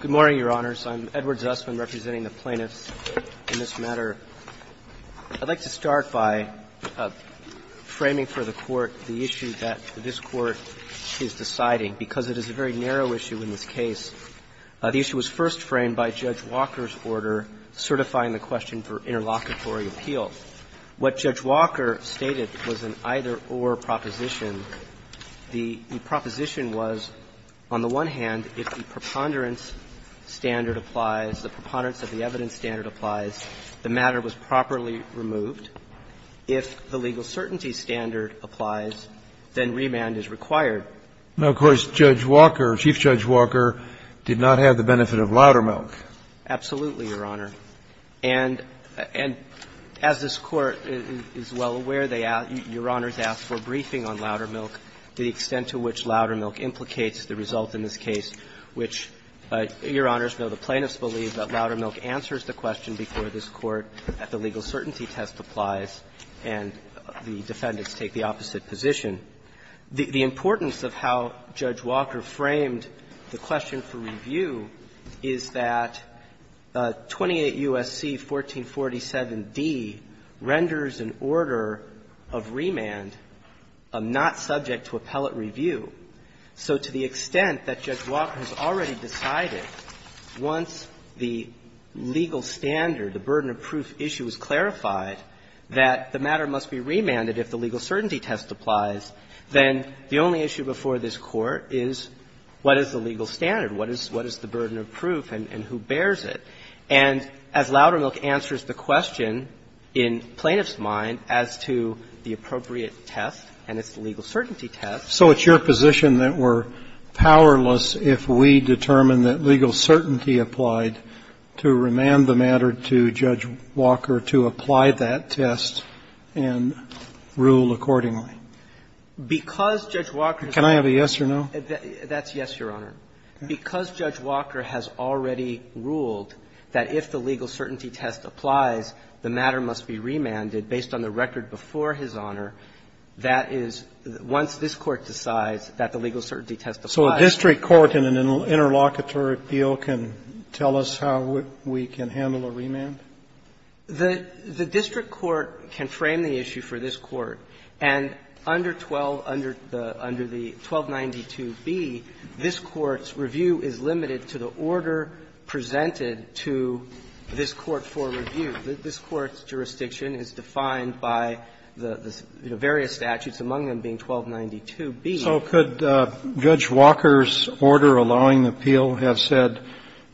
Good morning, Your Honors. I'm Edward Zussman, representing the plaintiffs in this matter. I'd like to start by framing for the Court the issue that this Court is deciding. Because it is a very narrow issue in this case, the issue was first framed by Judge Walker's order certifying the question for interlocutory appeal. What Judge Walker stated was an either-or proposition. The proposition was, on the one hand, if the preponderance standard applies, the preponderance of the evidence standard applies, the matter was properly removed. If the legal certainty standard applies, then remand is required. Now, of course, Judge Walker, Chief Judge Walker, did not have the benefit of louder milk. Absolutely, Your Honor. And as this Court is well aware, Your Honors asked for a briefing on louder milk, the extent to which louder milk implicates the result in this case, which, Your Honors, though the plaintiffs believe that louder milk answers the question before this Court at the legal certainty test applies, and the defendants take the opposite position. The importance of how Judge Walker framed the question for review is that 28 U.S.C. 1447d renders an order of remand not subject to appellate review. So to the extent that Judge Walker has already decided, once the legal standard, the burden of proof issue is clarified, that the matter must be remanded if the legal certainty test applies, then the only issue before this Court is what is the legal standard, what is the burden of proof, and who bears it. And as louder milk answers the question in plaintiff's mind as to the appropriate test, and it's the legal certainty test. So it's your position that we're powerless, if we determine that legal certainty applied, to remand the matter to Judge Walker to apply that test and rule, of course, accordingly. Can I have a yes or no? That's yes, Your Honor. Because Judge Walker has already ruled that if the legal certainty test applies, the matter must be remanded based on the record before his Honor, that is, once this Court decides that the legal certainty test applies. So a district court in an interlocutory appeal can tell us how we can handle a remand? The district court can frame the issue for this Court, and under 12, under the 1292B, this Court's review is limited to the order presented to this Court for review. This Court's jurisdiction is defined by the various statutes, among them being 1292B. So could Judge Walker's order allowing the appeal have said,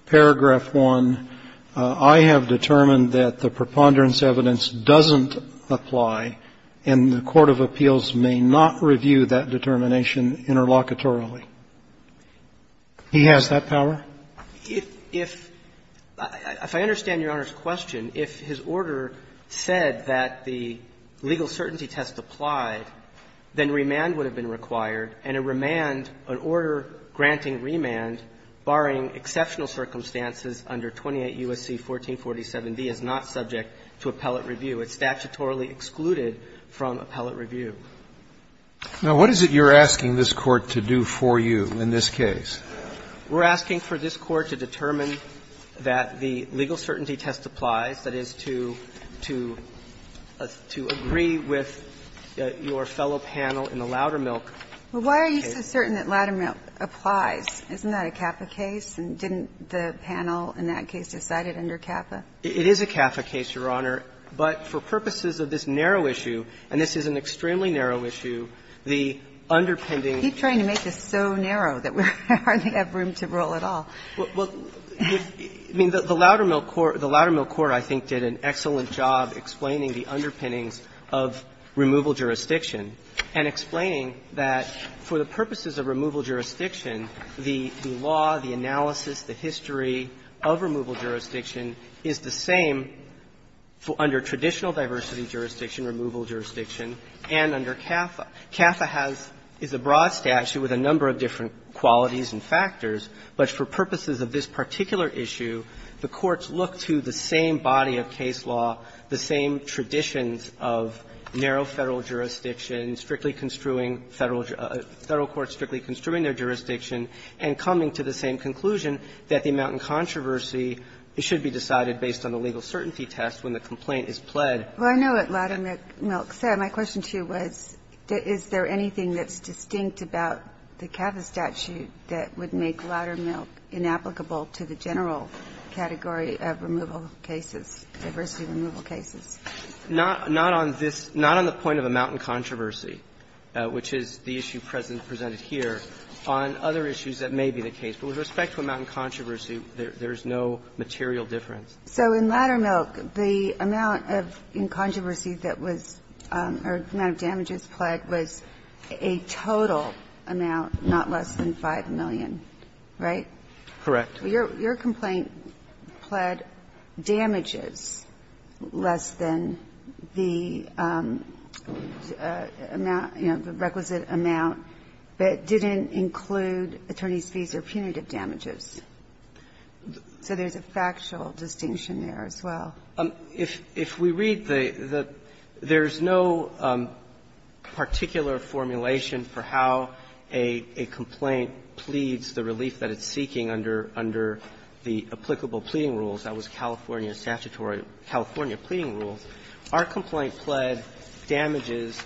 paragraph 1, I have determined that the preponderance evidence doesn't apply, and the court of appeals may not review that determination interlocutorily? He has that power? If I understand Your Honor's question, if his order said that the legal certainty test applied, then remand would have been required, and a remand, an order granting a remand, barring exceptional circumstances under 28 U.S.C. 1447B, is not subject to appellate review. It's statutorily excluded from appellate review. Now, what is it you're asking this Court to do for you in this case? We're asking for this Court to determine that the legal certainty test applies, that is, to agree with your fellow panel in the Loudermilk case. Well, why are you so certain that Loudermilk applies? Isn't that a CAFA case, and didn't the panel in that case decide it under CAFA? It is a CAFA case, Your Honor, but for purposes of this narrow issue, and this is an extremely narrow issue, the underpinning. You keep trying to make this so narrow that we hardly have room to roll at all. Well, I mean, the Loudermilk court, the Loudermilk court, I think, did an excellent job explaining the underpinnings of removal jurisdiction, and explaining that for the purposes of removal jurisdiction, the law, the analysis, the history of removal jurisdiction is the same under traditional diversity jurisdiction, removal jurisdiction, and under CAFA. CAFA has the broad statute with a number of different qualities and factors, but for purposes of this particular issue, the courts look to the same body of case law, the same traditions of narrow Federal jurisdiction, strictly construing Federal court strictly construing their jurisdiction, and coming to the same conclusion that the amount in controversy should be decided based on the legal certainty test when the complaint is pled. Well, I know what Loudermilk said. My question to you was, is there anything that's distinct about the CAFA statute that would make Loudermilk inapplicable to the general category of removal cases, diversity removal cases? Not on this ñ not on the point of amount in controversy, which is the issue presented here, on other issues that may be the case. But with respect to amount in controversy, there's no material difference. So in Loudermilk, the amount of in controversy that was ñ or the amount of damages pled was a total amount, not less than 5 million, right? Correct. Your complaint pled damages less than the amount, you know, the requisite amount, but didn't include attorney's fees or punitive damages. So there's a factual distinction there as well. If we read the ñ there's no particular formulation for how a complaint pleads the relief that it's seeking under the applicable pleading rules. That was California statutory ñ California pleading rules. Our complaint pled damages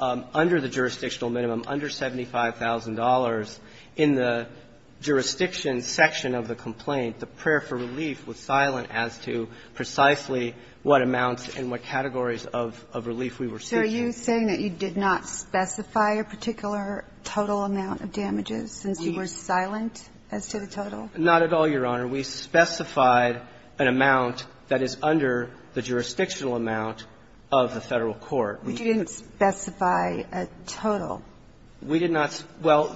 under the jurisdictional minimum, under $75,000. In the jurisdiction section of the complaint, the prayer for relief was silent as to precisely what amounts and what categories of relief we were seeking. So are you saying that you did not specify a particular total amount of damages since you were silent as to the total? Not at all, Your Honor. We specified an amount that is under the jurisdictional amount of the Federal court. But you didn't specify a total. We did not ñ well,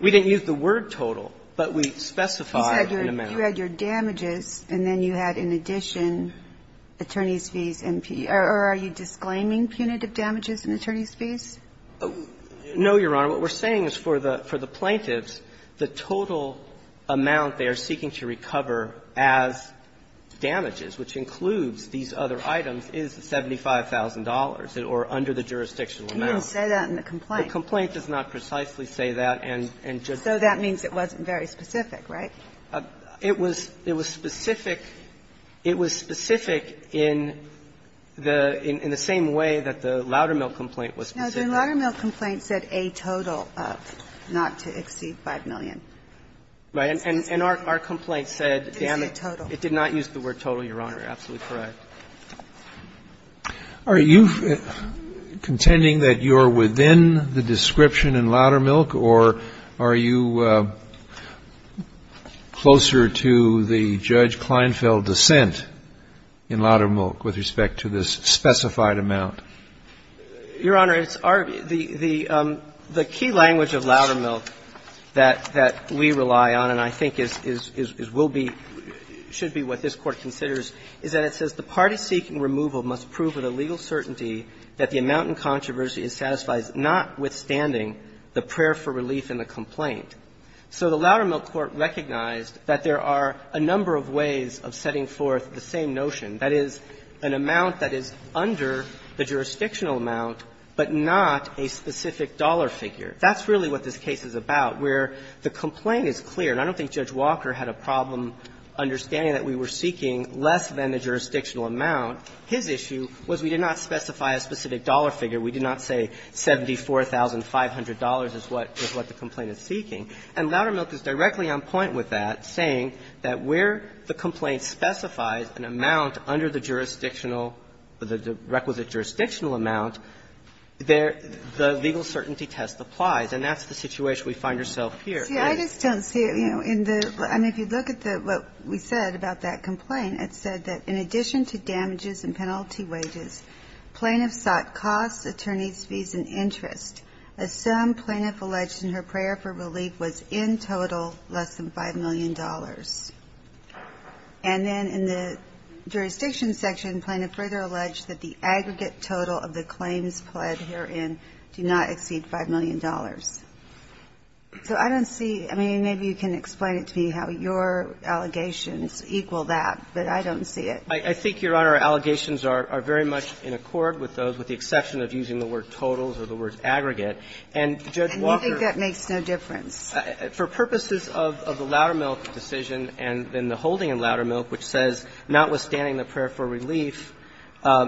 we didn't use the word total, but we specified an amount. You said you had your damages and then you had in addition attorney's fees and ñ or are you disclaiming punitive damages and attorney's fees? No, Your Honor. What we're saying is for the plaintiffs, the total amount they are seeking to recover as damages, which includes these other items, is $75,000 or under the jurisdictional amount. You didn't say that in the complaint. The complaint does not precisely say that and just ñ So that means it wasn't very specific, right? It was specific in the same way that the Loudermilk complaint was specific. No, the Loudermilk complaint said a total of, not to exceed, 5 million. Right. And our complaint said damage. It did not use the word total, Your Honor. Absolutely correct. Are you contending that you're within the description in Loudermilk, or are you ñ are you closer to the Judge Kleinfeld dissent in Loudermilk with respect to this specified amount? Your Honor, it's our ñ the key language of Loudermilk that we rely on and I think is ñ will be ñ should be what this Court considers is that it says, ìThe party seeking removal must prove with a legal certainty that the amount in controversy is satisfied notwithstanding the prayer for relief in the complaint.î So the Loudermilk court recognized that there are a number of ways of setting forth the same notion, that is, an amount that is under the jurisdictional amount, but not a specific dollar figure. That's really what this case is about, where the complaint is clear. And I don't think Judge Walker had a problem understanding that we were seeking less than the jurisdictional amount. His issue was we did not specify a specific dollar figure. We did not say $74,500 is what the complaint is seeking. And Loudermilk is directly on point with that, saying that where the complaint specifies an amount under the jurisdictional ñ the requisite jurisdictional amount, there ñ the legal certainty test applies. And that's the situation we find ourselves here. And ñ Ginsburg, I just don't see it, you know, in the ñ I mean, if you look at the ñ what we said about that complaint, it said that in addition to damages and penalty wages, plaintiffs sought costs, attorneysí fees and interest. A sum plaintiff alleged in her prayer for relief was in total less than $5 million. And then in the jurisdiction section, plaintiff further alleged that the aggregate total of the claims pled herein do not exceed $5 million. So I don't see ñ I mean, maybe you can explain it to me how your allegations equal that, but I don't see it. I think, Your Honor, our allegations are very much in accord with those, with the exception of using the word ìtotalsî or the word ìaggregate.î And Judge Walker ñ And you think that makes no difference? For purposes of the Loudermilk decision and then the holding in Loudermilk, which says, notwithstanding the prayer for relief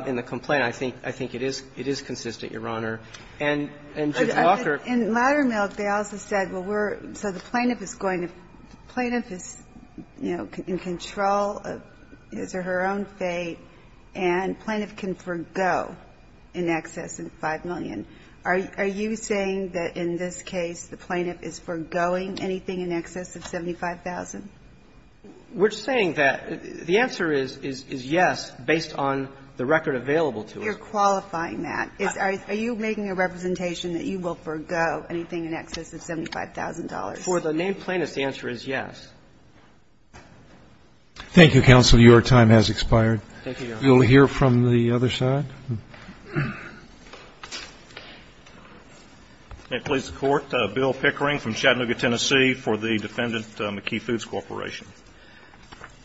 in the complaint, I think ñ I think it is ñ it is consistent, Your Honor. And Judge Walker ñ In Loudermilk, they also said, well, we're ñ so the plaintiff is going to ñ the plaintiff is, you know, in control of his or her own fate, and plaintiff can forgo anything in excess of $5 million. Are you saying that in this case, the plaintiff is forgoing anything in excess of $75,000? We're saying that ñ the answer is yes, based on the record available to us. You're qualifying that. Are you making a representation that you will forgo anything in excess of $75,000? For the named plaintiff, the answer is yes. Thank you, counsel. Your time has expired. Thank you, Your Honor. You'll hear from the other side. Can I please have the Court? Bill Pickering from Chattanooga, Tennessee, for the Defendant McKee Foods Corporation.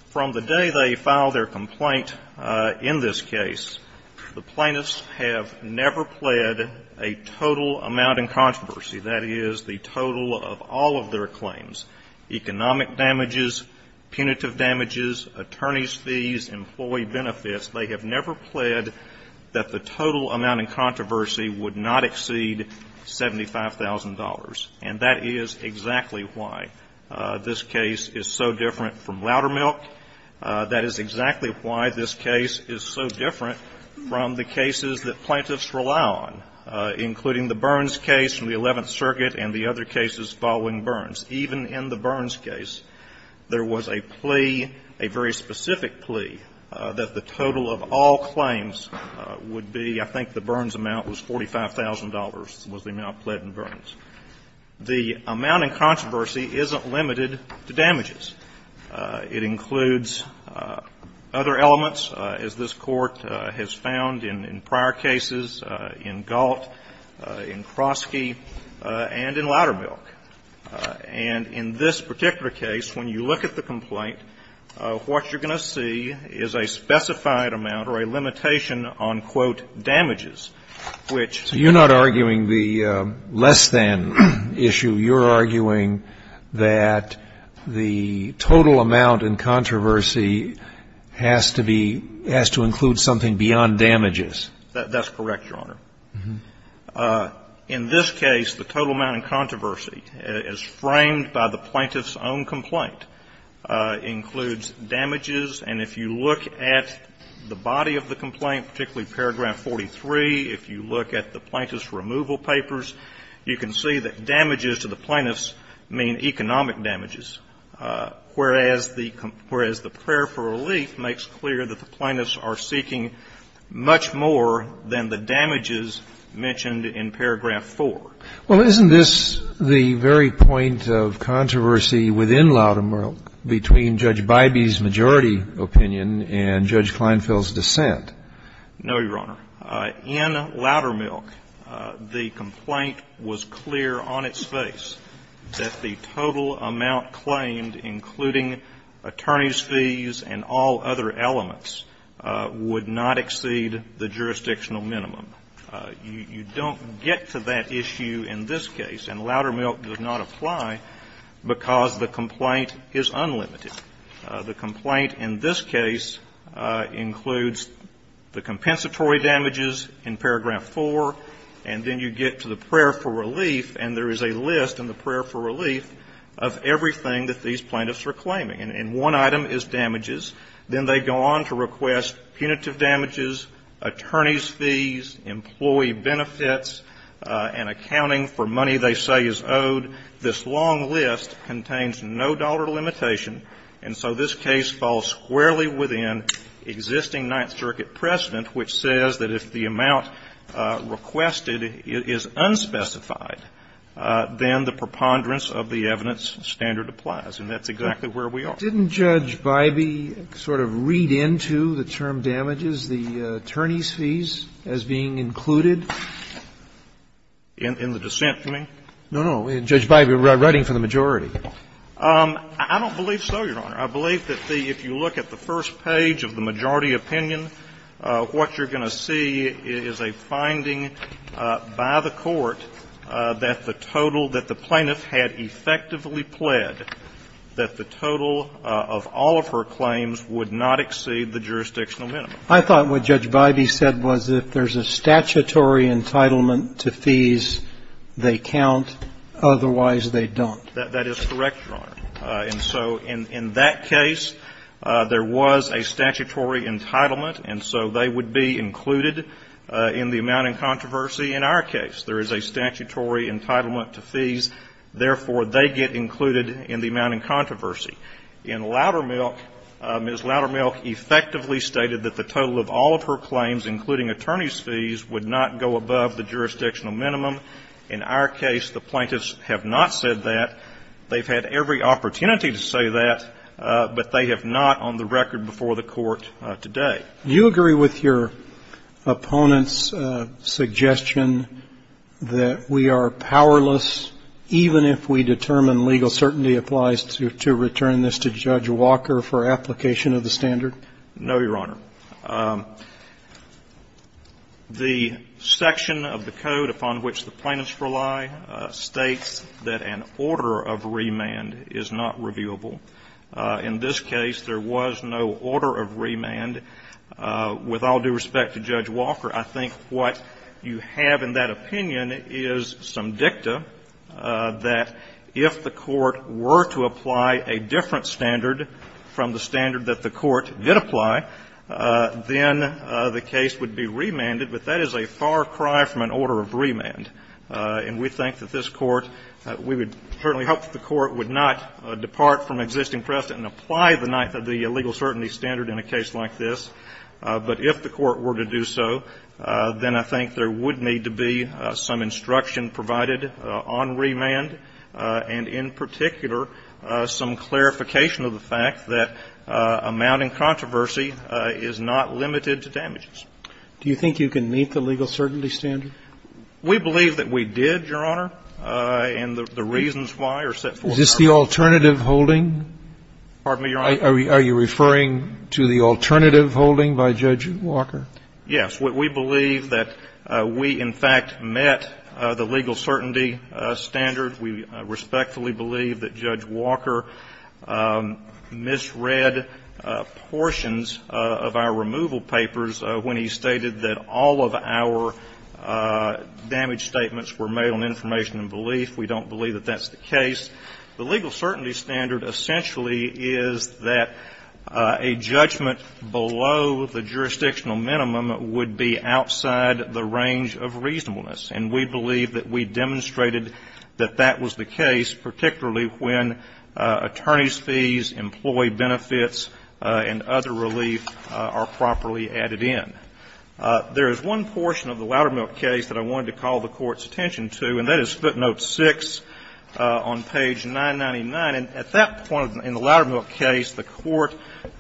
From the day they filed their complaint in this case, the plaintiffs have never pled a total amount in controversy, that is, the total of all of their claims, economic damages, punitive damages, attorney's fees, employee benefits. They have never pled that the total amount in controversy would not exceed $75,000. And that is exactly why this case is so different from Loudermilk. That is exactly why this case is so different from the cases that plaintiffs rely on, including the Burns case from the Eleventh Circuit and the other cases following Burns. In the case of the Burns case, there was a plea, a very specific plea, that the total of all claims would be, I think the Burns amount was $45,000, was the amount pled in Burns. The amount in controversy isn't limited to damages. It includes other elements, as this Court has found in prior cases, in Galt, in Krosky and in Loudermilk. And in this particular case, when you look at the complaint, what you're going to see is a specified amount or a limitation on, quote, damages, which you're not arguing the less-than issue. You're arguing that the total amount in controversy has to be, has to include something beyond damages. That's correct, Your Honor. In this case, the total amount in controversy, as framed by the plaintiff's own complaint, includes damages. And if you look at the body of the complaint, particularly paragraph 43, if you look at the plaintiff's removal papers, you can see that damages to the plaintiffs mean economic damages, whereas the prayer for relief makes clear that the plaintiffs are seeking much more than the damages mentioned in paragraph 4. Well, isn't this the very point of controversy within Loudermilk between Judge Bybee's majority opinion and Judge Kleinfeld's dissent? No, Your Honor. In Loudermilk, the complaint was clear on its face that the total amount claimed, including attorney's fees and all other elements, would not exceed the jurisdictional minimum. You don't get to that issue in this case, and Loudermilk does not apply because the complaint is unlimited. The complaint in this case includes the compensatory damages in paragraph 4, and then you get to the prayer for relief, and there is a list in the prayer for relief of everything that these plaintiffs are claiming, and one item is damages, then they go on to request punitive damages, attorney's fees, employee benefits, and accounting for money they say is owed. This long list contains no dollar limitation, and so this case falls squarely within existing Ninth Circuit precedent, which says that if the amount requested is unspecified, then the preponderance of the evidence standard applies, and that's exactly where we are. Didn't Judge Bybee sort of read into the term damages, the attorney's fees, as being included? In the dissent, you mean? No, no. Judge Bybee, writing for the majority. I don't believe so, Your Honor. I believe that the – if you look at the first page of the majority opinion, what you're going to see is a finding by the court that the total that the plaintiff had effectively pled, that the total of all of her claims would not exceed the jurisdictional minimum. I thought what Judge Bybee said was if there's a statutory entitlement to fees, they count, otherwise they don't. That is correct, Your Honor. And so in that case, there was a statutory entitlement, and so they would be included in the amount in controversy in our case. There is a statutory entitlement to fees, therefore they get included in the amount in controversy. In Loudermilk, Ms. Loudermilk effectively stated that the total of all of her claims, including attorney's fees, would not go above the jurisdictional minimum. In our case, the plaintiffs have not said that. They've had every opportunity to say that, but they have not on the record before the Court today. Do you agree with your opponent's suggestion that we are powerless, even if we determine legal certainty applies to return this to Judge Walker for application of the standard? No, Your Honor. The section of the code upon which the plaintiffs rely states that an order of the remand is not reviewable. In this case, there was no order of remand. With all due respect to Judge Walker, I think what you have in that opinion is some dicta that if the Court were to apply a different standard from the standard that the Court did apply, then the case would be remanded. But that is a far cry from an order of remand. And we think that this Court, we would certainly hope that the Court would not depart from existing precedent and apply the ninth of the legal certainty standard in a case like this. But if the Court were to do so, then I think there would need to be some instruction provided on remand, and in particular, some clarification of the fact that amounting controversy is not limited to damages. Do you think you can meet the legal certainty standard? We believe that we did, Your Honor, and the reasons why are set forth in the court. Is this the alternative holding? Pardon me, Your Honor? Are you referring to the alternative holding by Judge Walker? Yes. We believe that we, in fact, met the legal certainty standard. We respectfully believe that Judge Walker misread portions of our removal papers when he stated that all of our damage statements were made on information and belief. We don't believe that that's the case. The legal certainty standard essentially is that a judgment below the jurisdictional minimum would be outside the range of reasonableness. And we believe that we demonstrated that that was the case, particularly when attorneys' fees, employee benefits, and other relief are properly added in. There is one portion of the Loudermilk case that I wanted to call the Court's attention to, and that is footnote 6 on page 999. And at that point in the Loudermilk case, the Court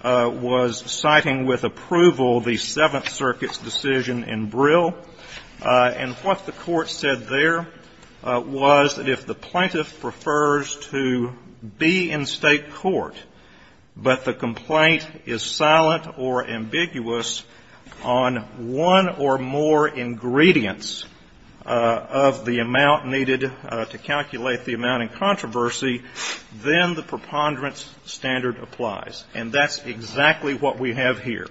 was citing with approval the Seventh Circuit's decision in Brill. And what the Court said there was that if the plaintiff prefers to be in State court, but the complaint is silent or ambiguous on one or more ingredients of the amount needed to calculate the amount in controversy, then the preponderance standard applies. And that's exactly what we have here.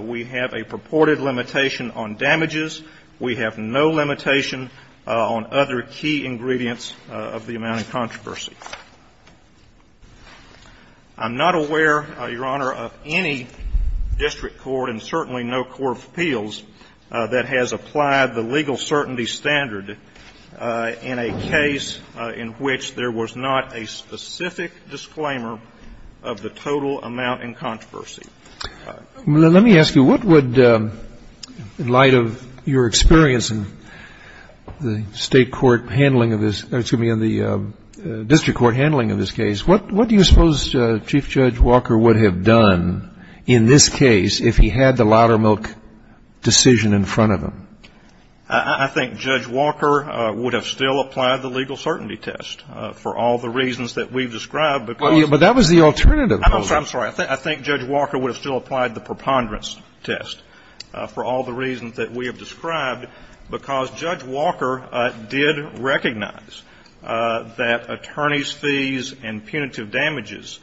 We have a purported limitation on damages. We have no limitation on other key ingredients of the amount in controversy. I'm not aware, Your Honor, of any district court, and certainly no court of appeals, that has applied the legal certainty standard in a case in which there was not a specific disclaimer of the total amount in controversy. Let me ask you, what would, in light of your experience in the State court handling of this, excuse me, in the district court handling of this case, what do you suppose Chief Judge Walker would have done in this case if he had the Loudermilk decision in front of him? I think Judge Walker would have still applied the legal certainty test for all the reasons that we've described. But that was the alternative. I'm sorry. I think Judge Walker would have still applied the preponderance test for all the reasons that we have described, because Judge Walker did recognize that attorneys' fees and punitive damages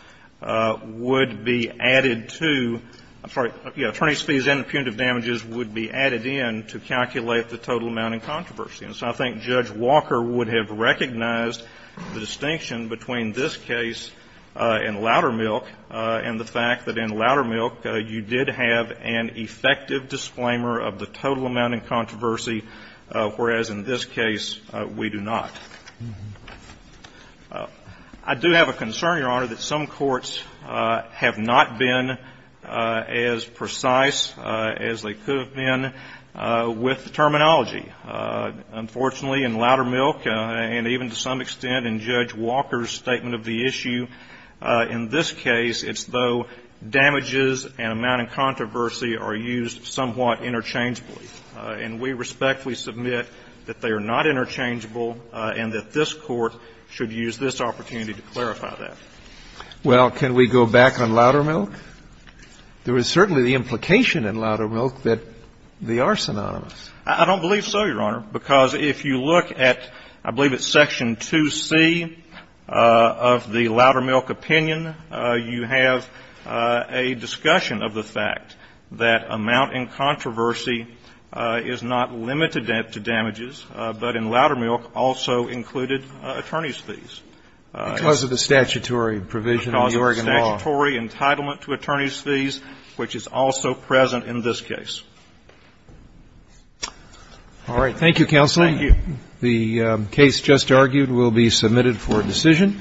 would be added to – I'm sorry, attorneys' fees and punitive damages would be added in to calculate the total amount in controversy. And so I think Judge Walker would have recognized the distinction between this case in Loudermilk and the fact that in Loudermilk, you did have an effective disclaimer of the total amount in controversy, whereas in this case, we do not. I do have a concern, Your Honor, that some courts have not been as precise as they could have been with the terminology. Unfortunately, in Loudermilk, and even to some extent in Judge Walker's statement of the issue, in this case, it's though damages and amount in controversy are used somewhat interchangeably. And we respectfully submit that they are not interchangeable and that this Court should use this opportunity to clarify that. Well, can we go back on Loudermilk? There is certainly the implication in Loudermilk that they are synonymous. I don't believe so, Your Honor, because if you look at, I believe it's section 2C of the Loudermilk opinion, you have a discussion of the fact that amount in controversy is not limited to damages, but in Loudermilk also included attorneys' fees. Because of the statutory provision of the Oregon law. Because of the statutory entitlement to attorneys' fees, which is also present in this case. All right. Thank you, Counsel. Thank you. The case just argued will be submitted for decision.